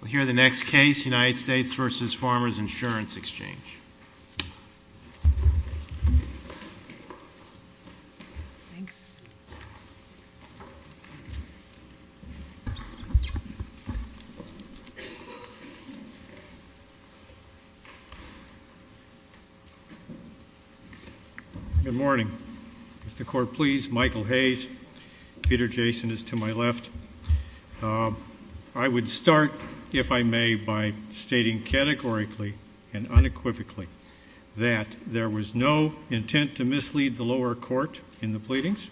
We'll hear the next case, United States v. Farmers Insurance Exchange. Good morning. If the Court please, Michael Hayes. Peter Jason is to my left. I would start, if I may, by stating categorically and unequivocally that there was no intent to mislead the lower court in the pleadings,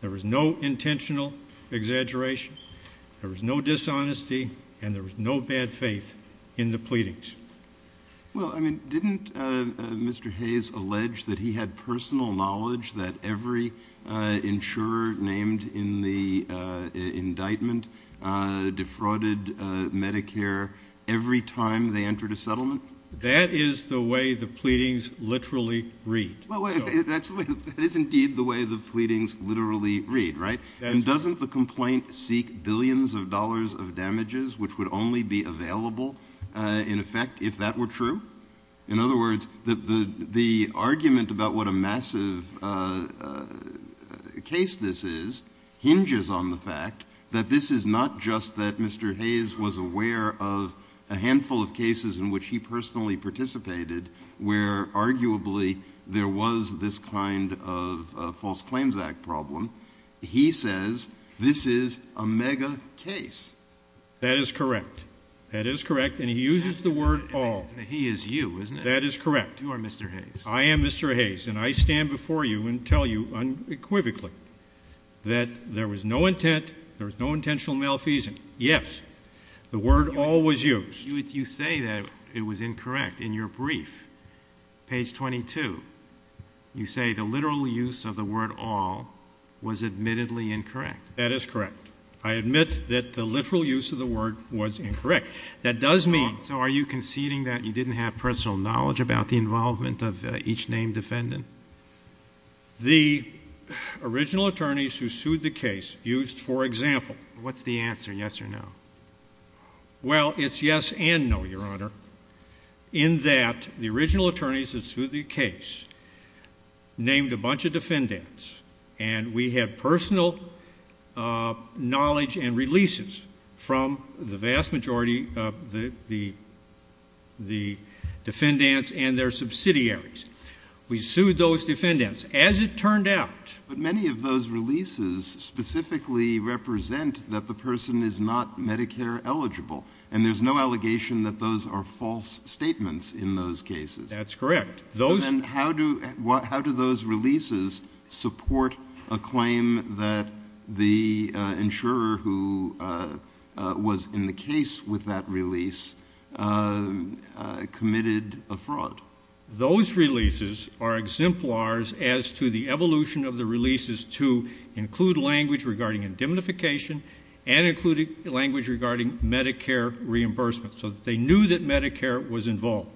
there was no intentional exaggeration, there was no dishonesty, and there was no bad faith in the pleadings. Well, I mean, didn't Mr. Hayes allege that he had personal knowledge that every insurer named in the indictment defrauded Medicare every time they entered a settlement? That is the way the pleadings literally read. That is indeed the way the pleadings literally read, right? And doesn't the complaint seek billions of dollars of damages which would only be available in effect if that were true? In other words, the argument about what a massive case this is hinges on the fact that this is not just that Mr. Hayes was aware of a handful of cases in which he personally participated where arguably there was this kind of False Claims Act problem. He says this is a mega case. That is correct. That is correct, and he uses the word all. He is you, isn't he? That is correct. You are Mr. Hayes. I am Mr. Hayes, and I stand before you and tell you unequivocally that there was no intent, there was no intentional malfeasance. Yes, the word all was used. You say that it was incorrect. In your brief, page 22, you say the literal use of the word all was admittedly incorrect. That is correct. I admit that the literal use of the word was incorrect. That does mean— So are you conceding that you didn't have personal knowledge about the involvement of each named defendant? The original attorneys who sued the case used, for example— What's the answer, yes or no? Well, it's yes and no, Your Honor, in that the original attorneys who sued the case named a bunch of defendants, and we had personal knowledge and releases from the vast majority of the defendants and their subsidiaries. We sued those defendants. As it turned out— And there's no allegation that those are false statements in those cases. That's correct. How do those releases support a claim that the insurer who was in the case with that release committed a fraud? Those releases are exemplars as to the evolution of the releases to include language regarding indemnification and included language regarding Medicare reimbursement, so that they knew that Medicare was involved.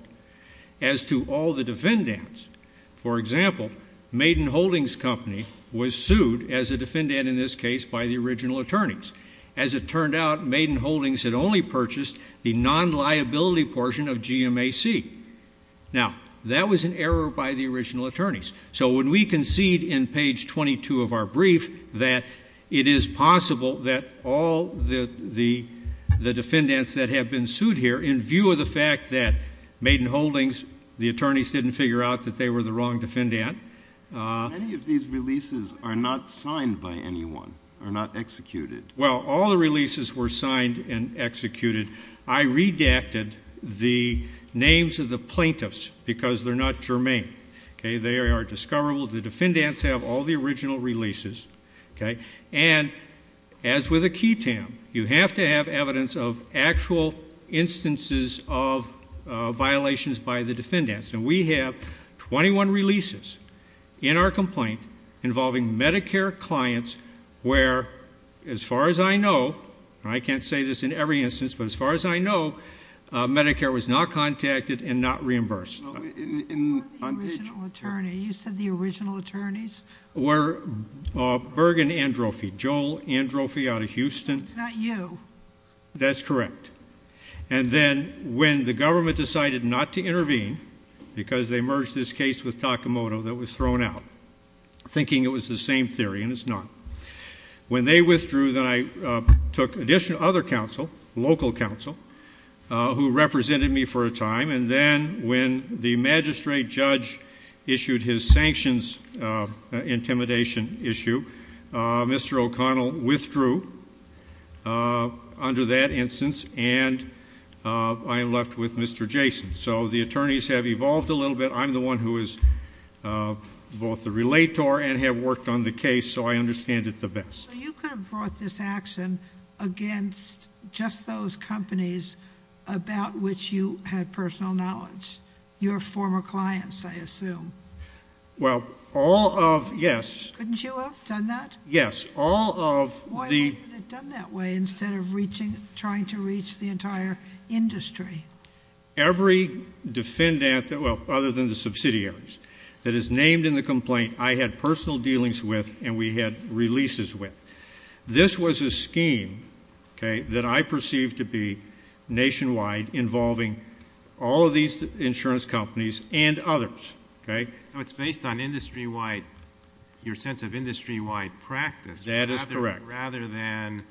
As to all the defendants, for example, Maiden Holdings Company was sued as a defendant in this case by the original attorneys. As it turned out, Maiden Holdings had only purchased the non-liability portion of GMAC. Now, that was an error by the original attorneys. So when we concede in page 22 of our brief that it is possible that all the defendants that have been sued here, in view of the fact that Maiden Holdings, the attorneys didn't figure out that they were the wrong defendant— Many of these releases are not signed by anyone, are not executed. I redacted the names of the plaintiffs because they're not germane. They are discoverable. The defendants have all the original releases. And as with a QTAM, you have to have evidence of actual instances of violations by the defendants. And we have 21 releases in our complaint involving Medicare clients where, as far as I know— and I can't say this in every instance, but as far as I know, Medicare was not contacted and not reimbursed. On page— Not the original attorney. You said the original attorneys? Were Berg and Androffi, Joel Androffi out of Houston. It's not you. That's correct. And then when the government decided not to intervene because they merged this case with Takamoto that was thrown out, thinking it was the same theory, and it's not. When they withdrew, then I took additional other counsel, local counsel, who represented me for a time. And then when the magistrate judge issued his sanctions intimidation issue, Mr. O'Connell withdrew under that instance, and I am left with Mr. Jason. So the attorneys have evolved a little bit. I'm the one who is both the relator and have worked on the case, so I understand it the best. So you could have brought this action against just those companies about which you had personal knowledge, your former clients, I assume. Well, all of—yes. Couldn't you have done that? Yes. All of the— Why wasn't it done that way instead of trying to reach the entire industry? Every defendant, well, other than the subsidiaries, that is named in the complaint, I had personal dealings with and we had releases with. This was a scheme that I perceived to be nationwide involving all of these insurance companies and others. So it's based on industry-wide, your sense of industry-wide practice. That is correct. Rather than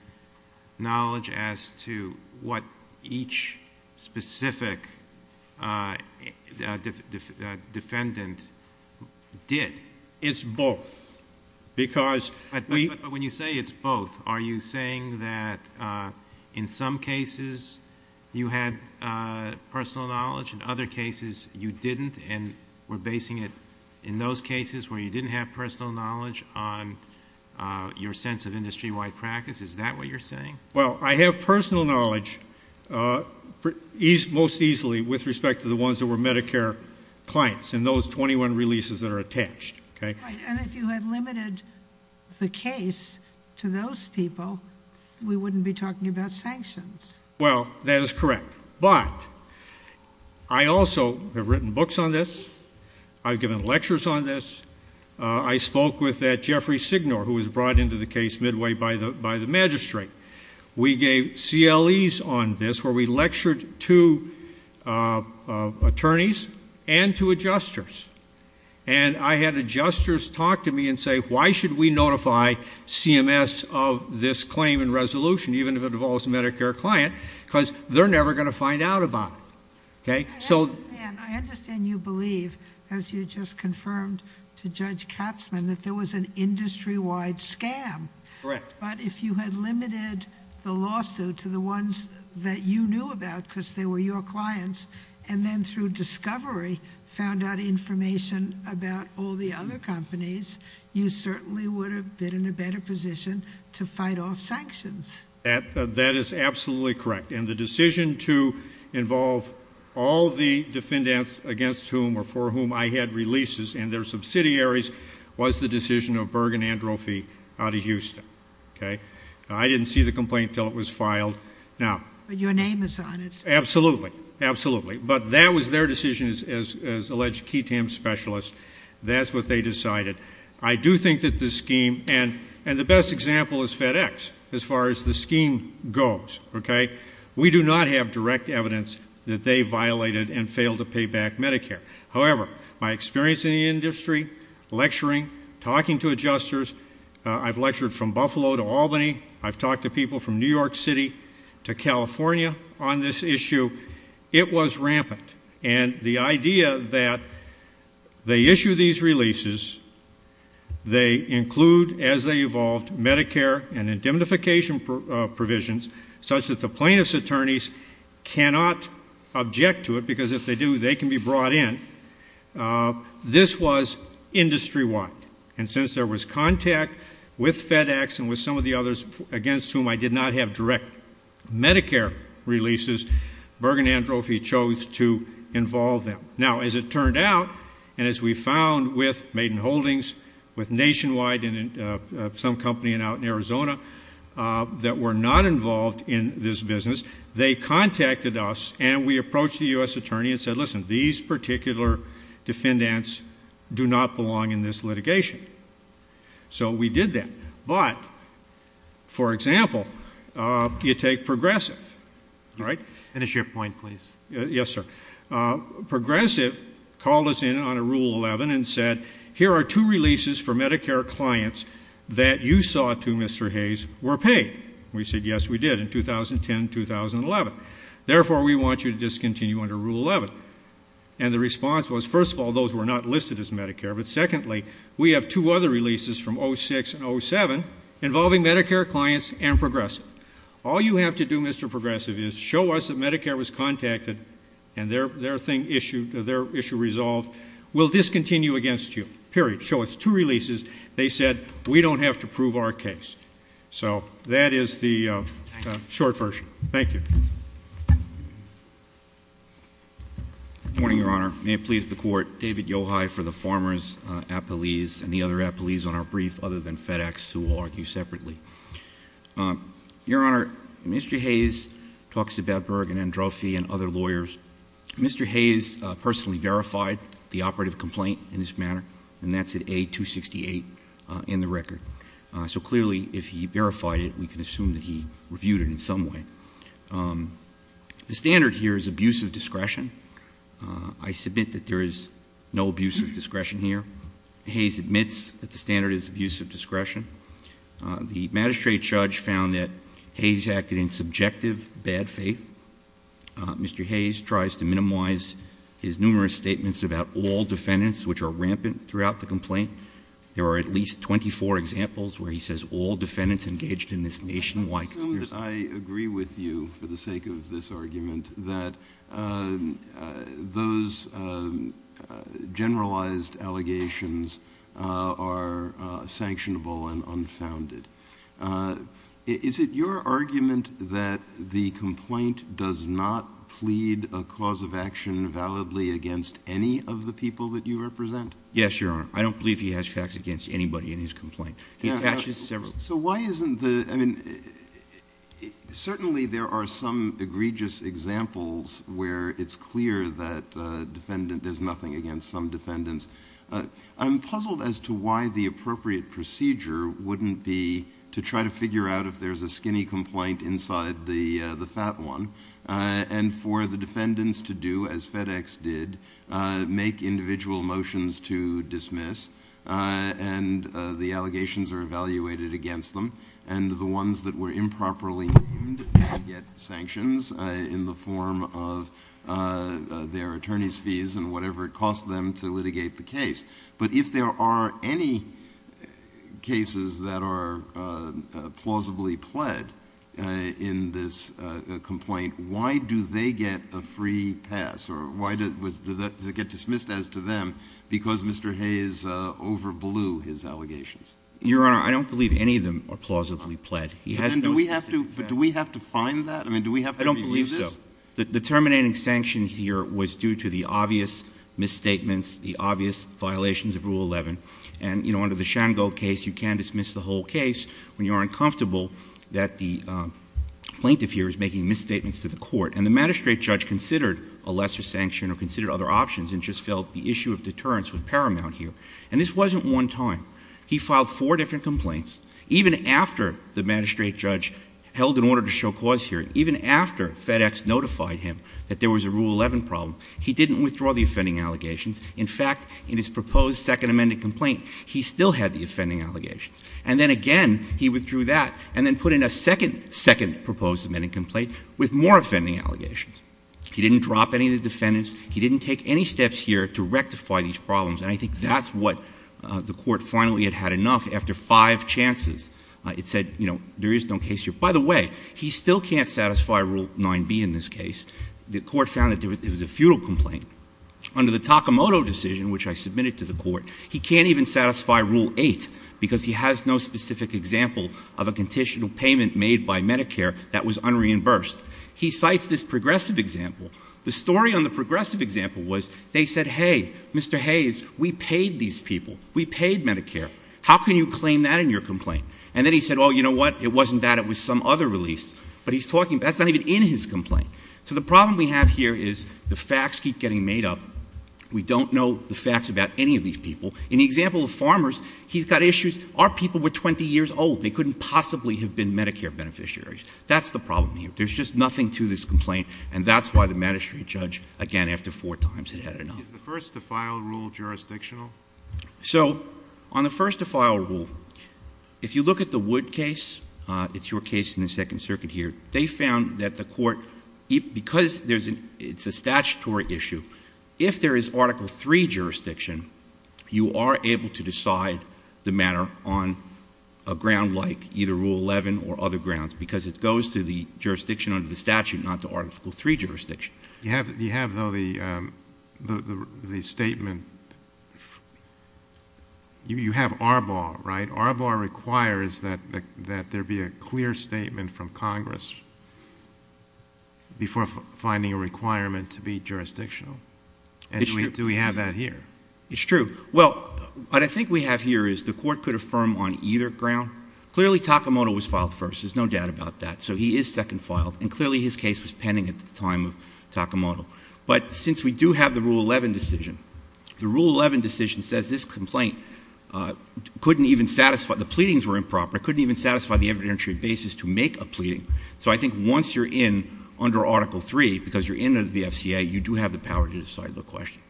knowledge as to what each specific defendant did. It's both because we— But when you say it's both, are you saying that in some cases you had personal knowledge, in other cases you didn't and were basing it in those cases where you didn't have personal knowledge on your sense of industry-wide practice? Is that what you're saying? Well, I have personal knowledge most easily with respect to the ones that were Medicare clients and those 21 releases that are attached. Right. And if you had limited the case to those people, we wouldn't be talking about sanctions. Well, that is correct. But I also have written books on this. I've given lectures on this. I spoke with Jeffrey Signor, who was brought into the case midway by the magistrate. We gave CLEs on this where we lectured to attorneys and to adjusters. And I had adjusters talk to me and say, why should we notify CMS of this claim and resolution, even if it involves a Medicare client, because they're never going to find out about it. I understand you believe, as you just confirmed to Judge Katzmann, that there was an industry-wide scam. Correct. But if you had limited the lawsuit to the ones that you knew about because they were your clients and then through discovery found out information about all the other companies, you certainly would have been in a better position to fight off sanctions. That is absolutely correct. And the decision to involve all the defendants against whom or for whom I had releases and their subsidiaries was the decision of Berg and Androffi out of Houston. I didn't see the complaint until it was filed. But your name is on it. Absolutely. Absolutely. But that was their decision, as alleged key TAM specialists. That's what they decided. I do think that the scheme, and the best example is FedEx, as far as the scheme goes. We do not have direct evidence that they violated and failed to pay back Medicare. However, my experience in the industry, lecturing, talking to adjusters, I've lectured from Buffalo to Albany. I've talked to people from New York City to California on this issue. It was rampant. And the idea that they issue these releases, they include, as they evolved, Medicare and indemnification provisions such that the plaintiff's attorneys cannot object to it, because if they do, they can be brought in. This was industry-wide. And since there was contact with FedEx and with some of the others against whom I did not have direct Medicare releases, Bergen Androffi chose to involve them. Now, as it turned out, and as we found with Maiden Holdings, with Nationwide, and some company out in Arizona that were not involved in this business, they contacted us and we approached the U.S. attorney and said, listen, these particular defendants do not belong in this litigation. So we did that. But, for example, you take Progressive, right? Finish your point, please. Yes, sir. Progressive called us in on a Rule 11 and said, here are two releases for Medicare clients that you saw to Mr. Hayes were paid. We said, yes, we did, in 2010, 2011. Therefore, we want you to discontinue under Rule 11. And the response was, first of all, those were not listed as Medicare. But, secondly, we have two other releases from 2006 and 2007 involving Medicare clients and Progressive. All you have to do, Mr. Progressive, is show us that Medicare was contacted and their issue resolved. We'll discontinue against you, period. Show us two releases. They said, we don't have to prove our case. So that is the short version. Thank you. Good morning, Your Honor. May it please the Court. David Yochai for the Farmers' Appealese and the other appealees on our brief, other than FedEx, who will argue separately. Your Honor, Mr. Hayes talks to Bedberg and Androffi and other lawyers. Mr. Hayes personally verified the operative complaint in this manner, and that's at A268 in the record. So, clearly, if he verified it, we can assume that he reviewed it in some way. The standard here is abuse of discretion. I submit that there is no abuse of discretion here. Hayes admits that the standard is abuse of discretion. The magistrate judge found that Hayes acted in subjective bad faith. Mr. Hayes tries to minimize his numerous statements about all defendants, which are rampant throughout the complaint. There are at least 24 examples where he says all defendants engaged in this nationwide conspiracy. Mr. Hayes, I agree with you for the sake of this argument that those generalized allegations are sanctionable and unfounded. Is it your argument that the complaint does not plead a cause of action validly against any of the people that you represent? Yes, Your Honor. I don't believe he has facts against anybody in his complaint. He attaches several. So why isn't the – I mean, certainly there are some egregious examples where it's clear that defendant does nothing against some defendants. I'm puzzled as to why the appropriate procedure wouldn't be to try to figure out if there's a skinny complaint inside the fat one, and for the defendants to do as FedEx did, make individual motions to dismiss, and the allegations are evaluated against them, and the ones that were improperly deemed get sanctions in the form of their attorney's fees and whatever it costs them to litigate the case. But if there are any cases that are plausibly pled in this complaint, why do they get a free pass? Or why does it get dismissed as to them because Mr. Hayes overblew his allegations? Your Honor, I don't believe any of them are plausibly pled. He has those cases. But do we have to find that? I mean, do we have to review this? I don't believe so. The terminating sanction here was due to the obvious misstatements, the obvious violations of Rule 11. And, you know, under the Shango case, you can dismiss the whole case when you are uncomfortable that the plaintiff here is making misstatements to the court. And the magistrate judge considered a lesser sanction or considered other options and just felt the issue of deterrence was paramount here. And this wasn't one time. He filed four different complaints. Even after the magistrate judge held an order to show cause here, even after FedEx notified him that there was a Rule 11 problem, he didn't withdraw the offending allegations. In fact, in his proposed second amended complaint, he still had the offending allegations. And then again, he withdrew that and then put in a second, second proposed amended complaint with more offending allegations. He didn't drop any of the defendants. He didn't take any steps here to rectify these problems. And I think that's what the court finally had had enough after five chances. It said, you know, there is no case here. By the way, he still can't satisfy Rule 9b in this case. The court found that it was a futile complaint. Under the Takamoto decision, which I submitted to the court, he can't even satisfy Rule 8 because he has no specific example of a conditional payment made by Medicare that was unreimbursed. He cites this progressive example. The story on the progressive example was they said, hey, Mr. Hayes, we paid these people. We paid Medicare. How can you claim that in your complaint? And then he said, oh, you know what, it wasn't that. It was some other release. But he's talking — that's not even in his complaint. So the problem we have here is the facts keep getting made up. We don't know the facts about any of these people. In the example of farmers, he's got issues. Our people were 20 years old. They couldn't possibly have been Medicare beneficiaries. That's the problem here. There's just nothing to this complaint, and that's why the magistrate judge, again, after four times, had had enough. Is the first-to-file rule jurisdictional? So on the first-to-file rule, if you look at the Wood case — it's your case in the Second Circuit here — they found that the court, because it's a statutory issue, if there is Article III jurisdiction, you are able to decide the matter on a ground like either Rule 11 or other grounds because it goes to the jurisdiction under the statute, not the Article III jurisdiction. You have, though, the statement — you have ARBAR, right? ARBAR requires that there be a clear statement from Congress before finding a requirement to be jurisdictional. And do we have that here? It's true. Well, what I think we have here is the court could affirm on either ground. Clearly, Takamoto was filed first. There's no doubt about that. So he is second filed, and clearly his case was pending at the time of Takamoto. But since we do have the Rule 11 decision, the Rule 11 decision says this complaint couldn't even satisfy — the pleadings were improper, couldn't even satisfy the evidentiary basis to make a pleading. So I think once you're in under Article III, because you're in under the FCA, you do have the power to decide the question.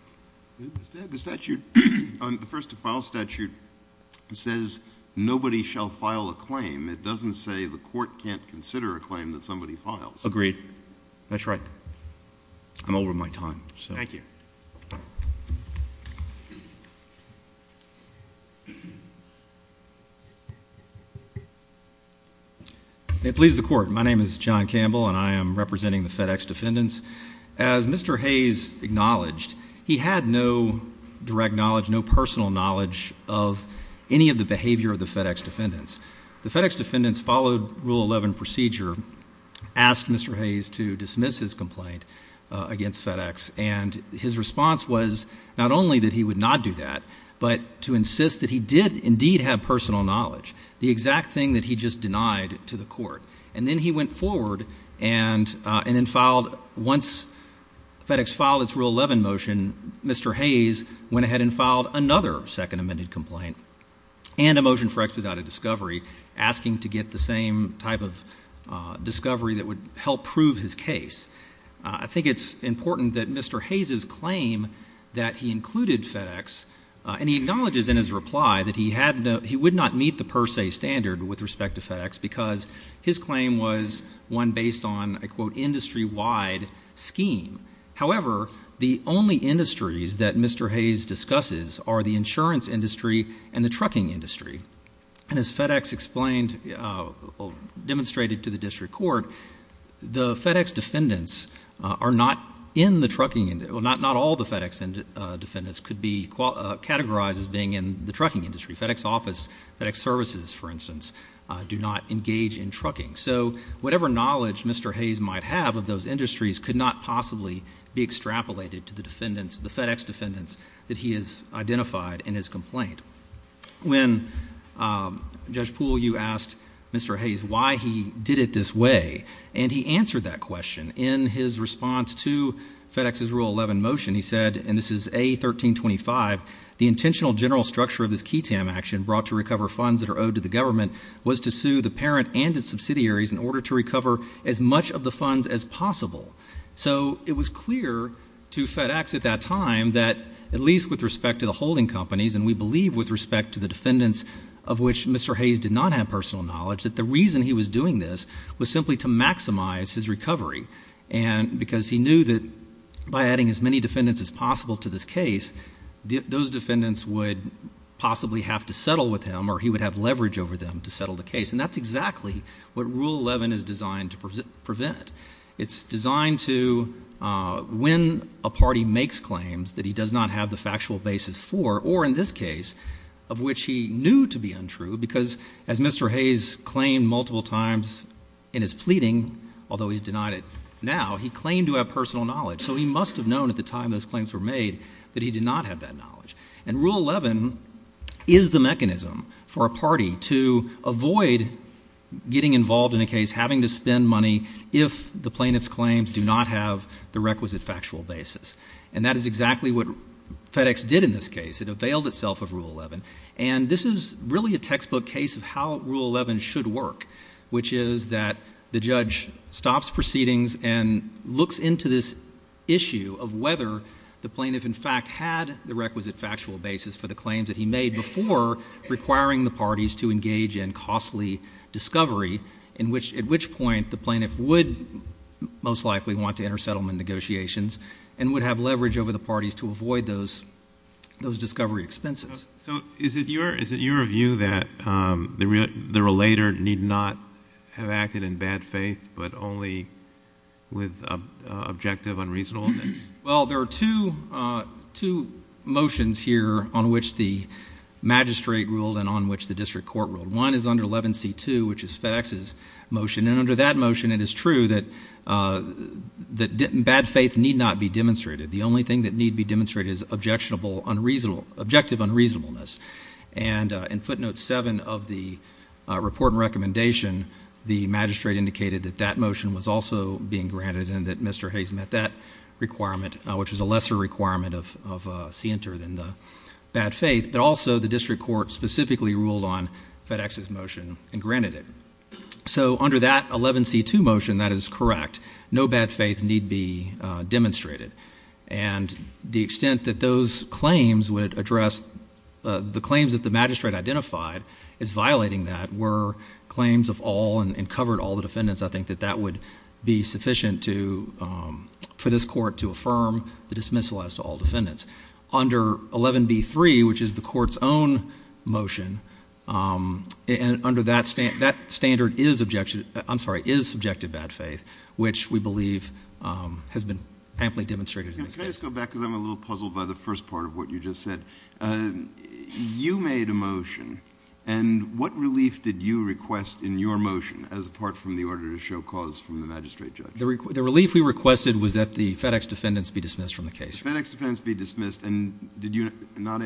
The statute — the first-to-file statute says nobody shall file a claim. It doesn't say the court can't consider a claim that somebody files. Agreed. That's right. I'm over my time. Thank you. May it please the Court. My name is John Campbell, and I am representing the FedEx defendants. As Mr. Hayes acknowledged, he had no direct knowledge, no personal knowledge of any of the behavior of the FedEx defendants. The FedEx defendants followed Rule 11 procedure, asked Mr. Hayes to dismiss his complaint against FedEx, and his response was not only that he would not do that, but to insist that he did indeed have personal knowledge, the exact thing that he just denied to the court. And then he went forward and then filed — once FedEx filed its Rule 11 motion, Mr. Hayes went ahead and filed another second amended complaint and a motion for X without a discovery, asking to get the same type of discovery that would help prove his case. I think it's important that Mr. Hayes's claim that he included FedEx — and he acknowledges in his reply that he would not meet the per se standard with respect to FedEx because his claim was one based on a, quote, industry-wide scheme. However, the only industries that Mr. Hayes discusses are the insurance industry and the trucking industry. And as FedEx explained or demonstrated to the district court, the FedEx defendants are not in the trucking — well, not all the FedEx defendants could be categorized as being in the trucking industry. FedEx office, FedEx services, for instance, do not engage in trucking. So whatever knowledge Mr. Hayes might have of those industries could not possibly be extrapolated to the defendants, the FedEx defendants that he has identified in his complaint. When, Judge Poole, you asked Mr. Hayes why he did it this way, and he answered that question. In his response to FedEx's Rule 11 motion, he said — and this is A1325 — the intentional general structure of this KETAM action brought to recover funds that are owed to the government was to sue the parent and its subsidiaries in order to recover as much of the funds as possible. So it was clear to FedEx at that time that, at least with respect to the holding companies, and we believe with respect to the defendants of which Mr. Hayes did not have personal knowledge, that the reason he was doing this was simply to maximize his recovery. And because he knew that by adding as many defendants as possible to this case, those defendants would possibly have to settle with him or he would have leverage over them to settle the case. And that's exactly what Rule 11 is designed to prevent. It's designed to, when a party makes claims that he does not have the factual basis for, or in this case, of which he knew to be untrue, because as Mr. Hayes claimed multiple times in his pleading, although he's denied it now, he claimed to have personal knowledge. So he must have known at the time those claims were made that he did not have that knowledge. And Rule 11 is the mechanism for a party to avoid getting involved in a case, having to spend money if the plaintiff's claims do not have the requisite factual basis. And that is exactly what FedEx did in this case. It availed itself of Rule 11. And this is really a textbook case of how Rule 11 should work, which is that the judge stops proceedings and looks into this issue of whether the plaintiff, in fact, had the requisite factual basis for the claims that he made before requiring the parties to engage in costly discovery at which point the plaintiff would most likely want to enter settlement negotiations and would have leverage over the parties to avoid those discovery expenses. So is it your view that the relator need not have acted in bad faith but only with objective, unreasonable evidence? Well, there are two motions here on which the magistrate ruled and on which the district court ruled. One is under 11C2, which is FedEx's motion. And under that motion, it is true that bad faith need not be demonstrated. The only thing that need be demonstrated is objective unreasonableness. And in footnote 7 of the report and recommendation, the magistrate indicated that that motion was also being granted and that Mr. Hayes met that requirement, which was a lesser requirement of CNTR than the bad faith. But also the district court specifically ruled on FedEx's motion and granted it. So under that 11C2 motion, that is correct. No bad faith need be demonstrated. And the extent that those claims would address the claims that the magistrate identified as violating that were claims of all and covered all the defendants, I think that that would be sufficient for this court to affirm the dismissal as to all defendants. Under 11B3, which is the court's own motion, under that standard is subjective bad faith, which we believe has been amply demonstrated in this case. Can I just go back because I'm a little puzzled by the first part of what you just said? You made a motion. And what relief did you request in your motion as apart from the order to show cause from the magistrate judge? The relief we requested was that the FedEx defendants be dismissed from the case. The FedEx defendants be dismissed, and did you not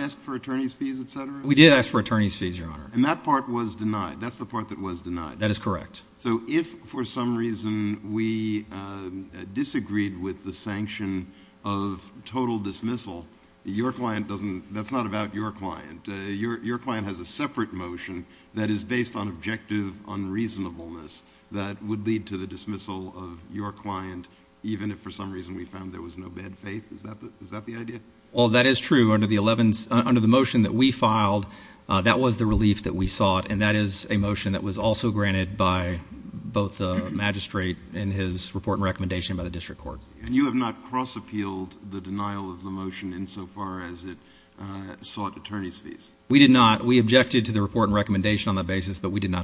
ask for attorney's fees, et cetera? We did ask for attorney's fees, Your Honor. And that part was denied. That's the part that was denied. That is correct. So if for some reason we disagreed with the sanction of total dismissal, that's not about your client. Your client has a separate motion that is based on objective unreasonableness that would lead to the dismissal of your client even if for some reason we found there was no bad faith. Is that the idea? Well, that is true. Under the motion that we filed, that was the relief that we sought, and that is a motion that was also granted by both the magistrate and his report and recommendation by the district court. And you have not cross-appealed the denial of the motion insofar as it sought attorney's fees? We did not. We did not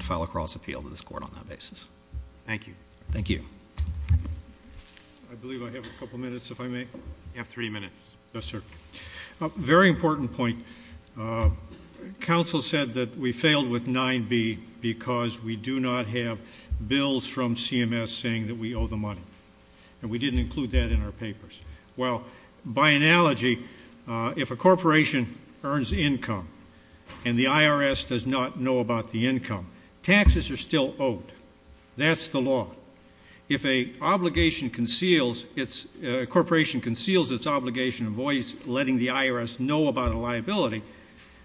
file a cross-appeal to this court on that basis. Thank you. Thank you. I believe I have a couple minutes, if I may. You have three minutes. Yes, sir. A very important point. Counsel said that we failed with 9B because we do not have bills from CMS saying that we owe the money, and we didn't include that in our papers. Well, by analogy, if a corporation earns income and the IRS does not know about the income, taxes are still owed. That's the law. If a corporation conceals its obligation of letting the IRS know about a liability,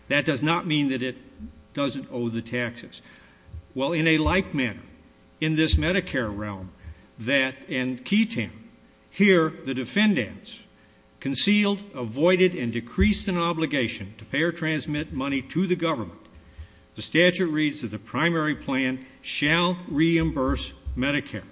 that does not mean that it doesn't owe the taxes. Well, in a like manner, in this Medicare realm, that in QTAN, here the defendants concealed, avoided, and decreased an obligation to pay or transmit money to the government, the statute reads that the primary plan shall reimburse Medicare.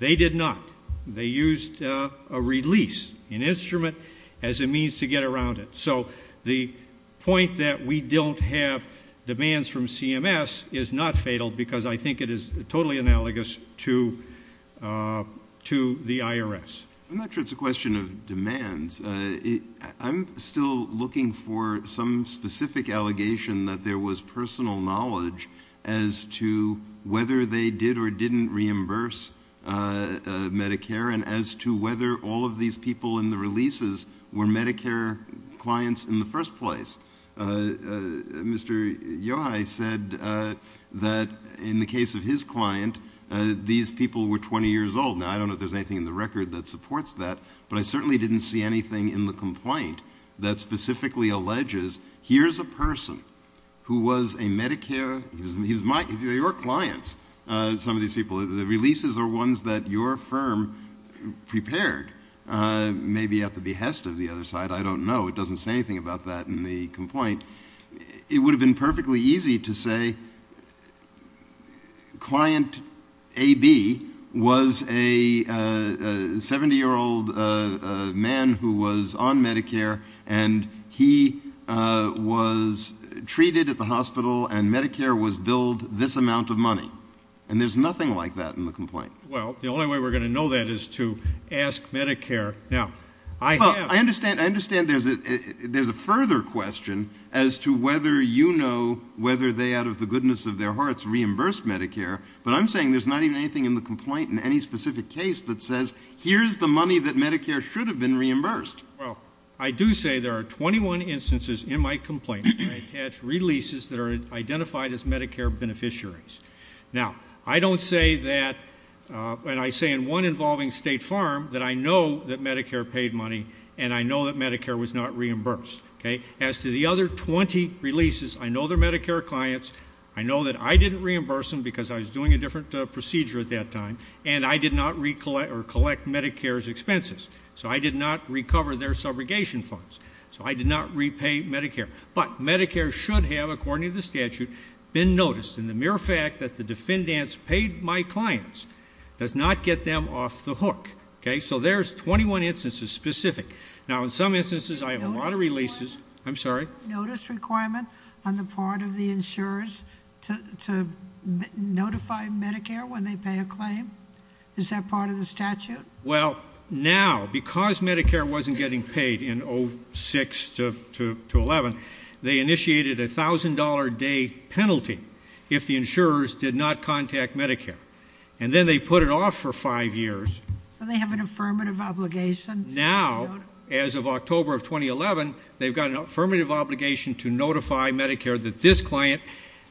They did not. They used a release, an instrument, as a means to get around it. So the point that we don't have demands from CMS is not fatal because I think it is totally analogous to the IRS. I'm not sure it's a question of demands. I'm still looking for some specific allegation that there was personal knowledge as to whether they did or didn't reimburse Medicare and as to whether all of these people in the releases were Medicare clients in the first place. Mr. Yohei said that in the case of his client, these people were 20 years old. Now, I don't know if there's anything in the record that supports that, but I certainly didn't see anything in the complaint that specifically alleges, here's a person who was a Medicare, your clients, some of these people, the releases are ones that your firm prepared maybe at the behest of the other side. I don't know. It doesn't say anything about that in the complaint. It would have been perfectly easy to say client AB was a 70-year-old man who was on Medicare, and he was treated at the hospital, and Medicare was billed this amount of money. And there's nothing like that in the complaint. Well, the only way we're going to know that is to ask Medicare. Well, I understand there's a further question as to whether you know whether they, out of the goodness of their hearts, reimbursed Medicare, but I'm saying there's not even anything in the complaint in any specific case that says, here's the money that Medicare should have been reimbursed. Well, I do say there are 21 instances in my complaint that attach releases that are identified as Medicare beneficiaries. Now, I don't say that, and I say in one involving State Farm that I know that Medicare paid money and I know that Medicare was not reimbursed. As to the other 20 releases, I know they're Medicare clients. I know that I didn't reimburse them because I was doing a different procedure at that time, and I did not collect Medicare's expenses, so I did not recover their subrogation funds, so I did not repay Medicare. But Medicare should have, according to the statute, been noticed. And the mere fact that the defendants paid my clients does not get them off the hook. Okay? So there's 21 instances specific. Now, in some instances, I have a lot of releases. I'm sorry? Notice requirement on the part of the insurers to notify Medicare when they pay a claim, is that part of the statute? Well, now, because Medicare wasn't getting paid in 06 to 11, they initiated a $1,000-a-day penalty if the insurers did not contact Medicare. And then they put it off for five years. So they have an affirmative obligation? Now, as of October of 2011, they've got an affirmative obligation to notify Medicare that this client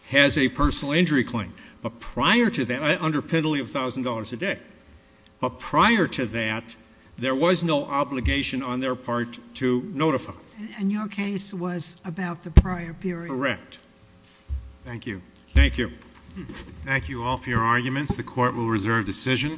has a personal injury claim. But prior to that, under penalty of $1,000-a-day, but prior to that, there was no obligation on their part to notify. And your case was about the prior period? Correct. Thank you. Thank you. Thank you all for your arguments. The Court will reserve decision.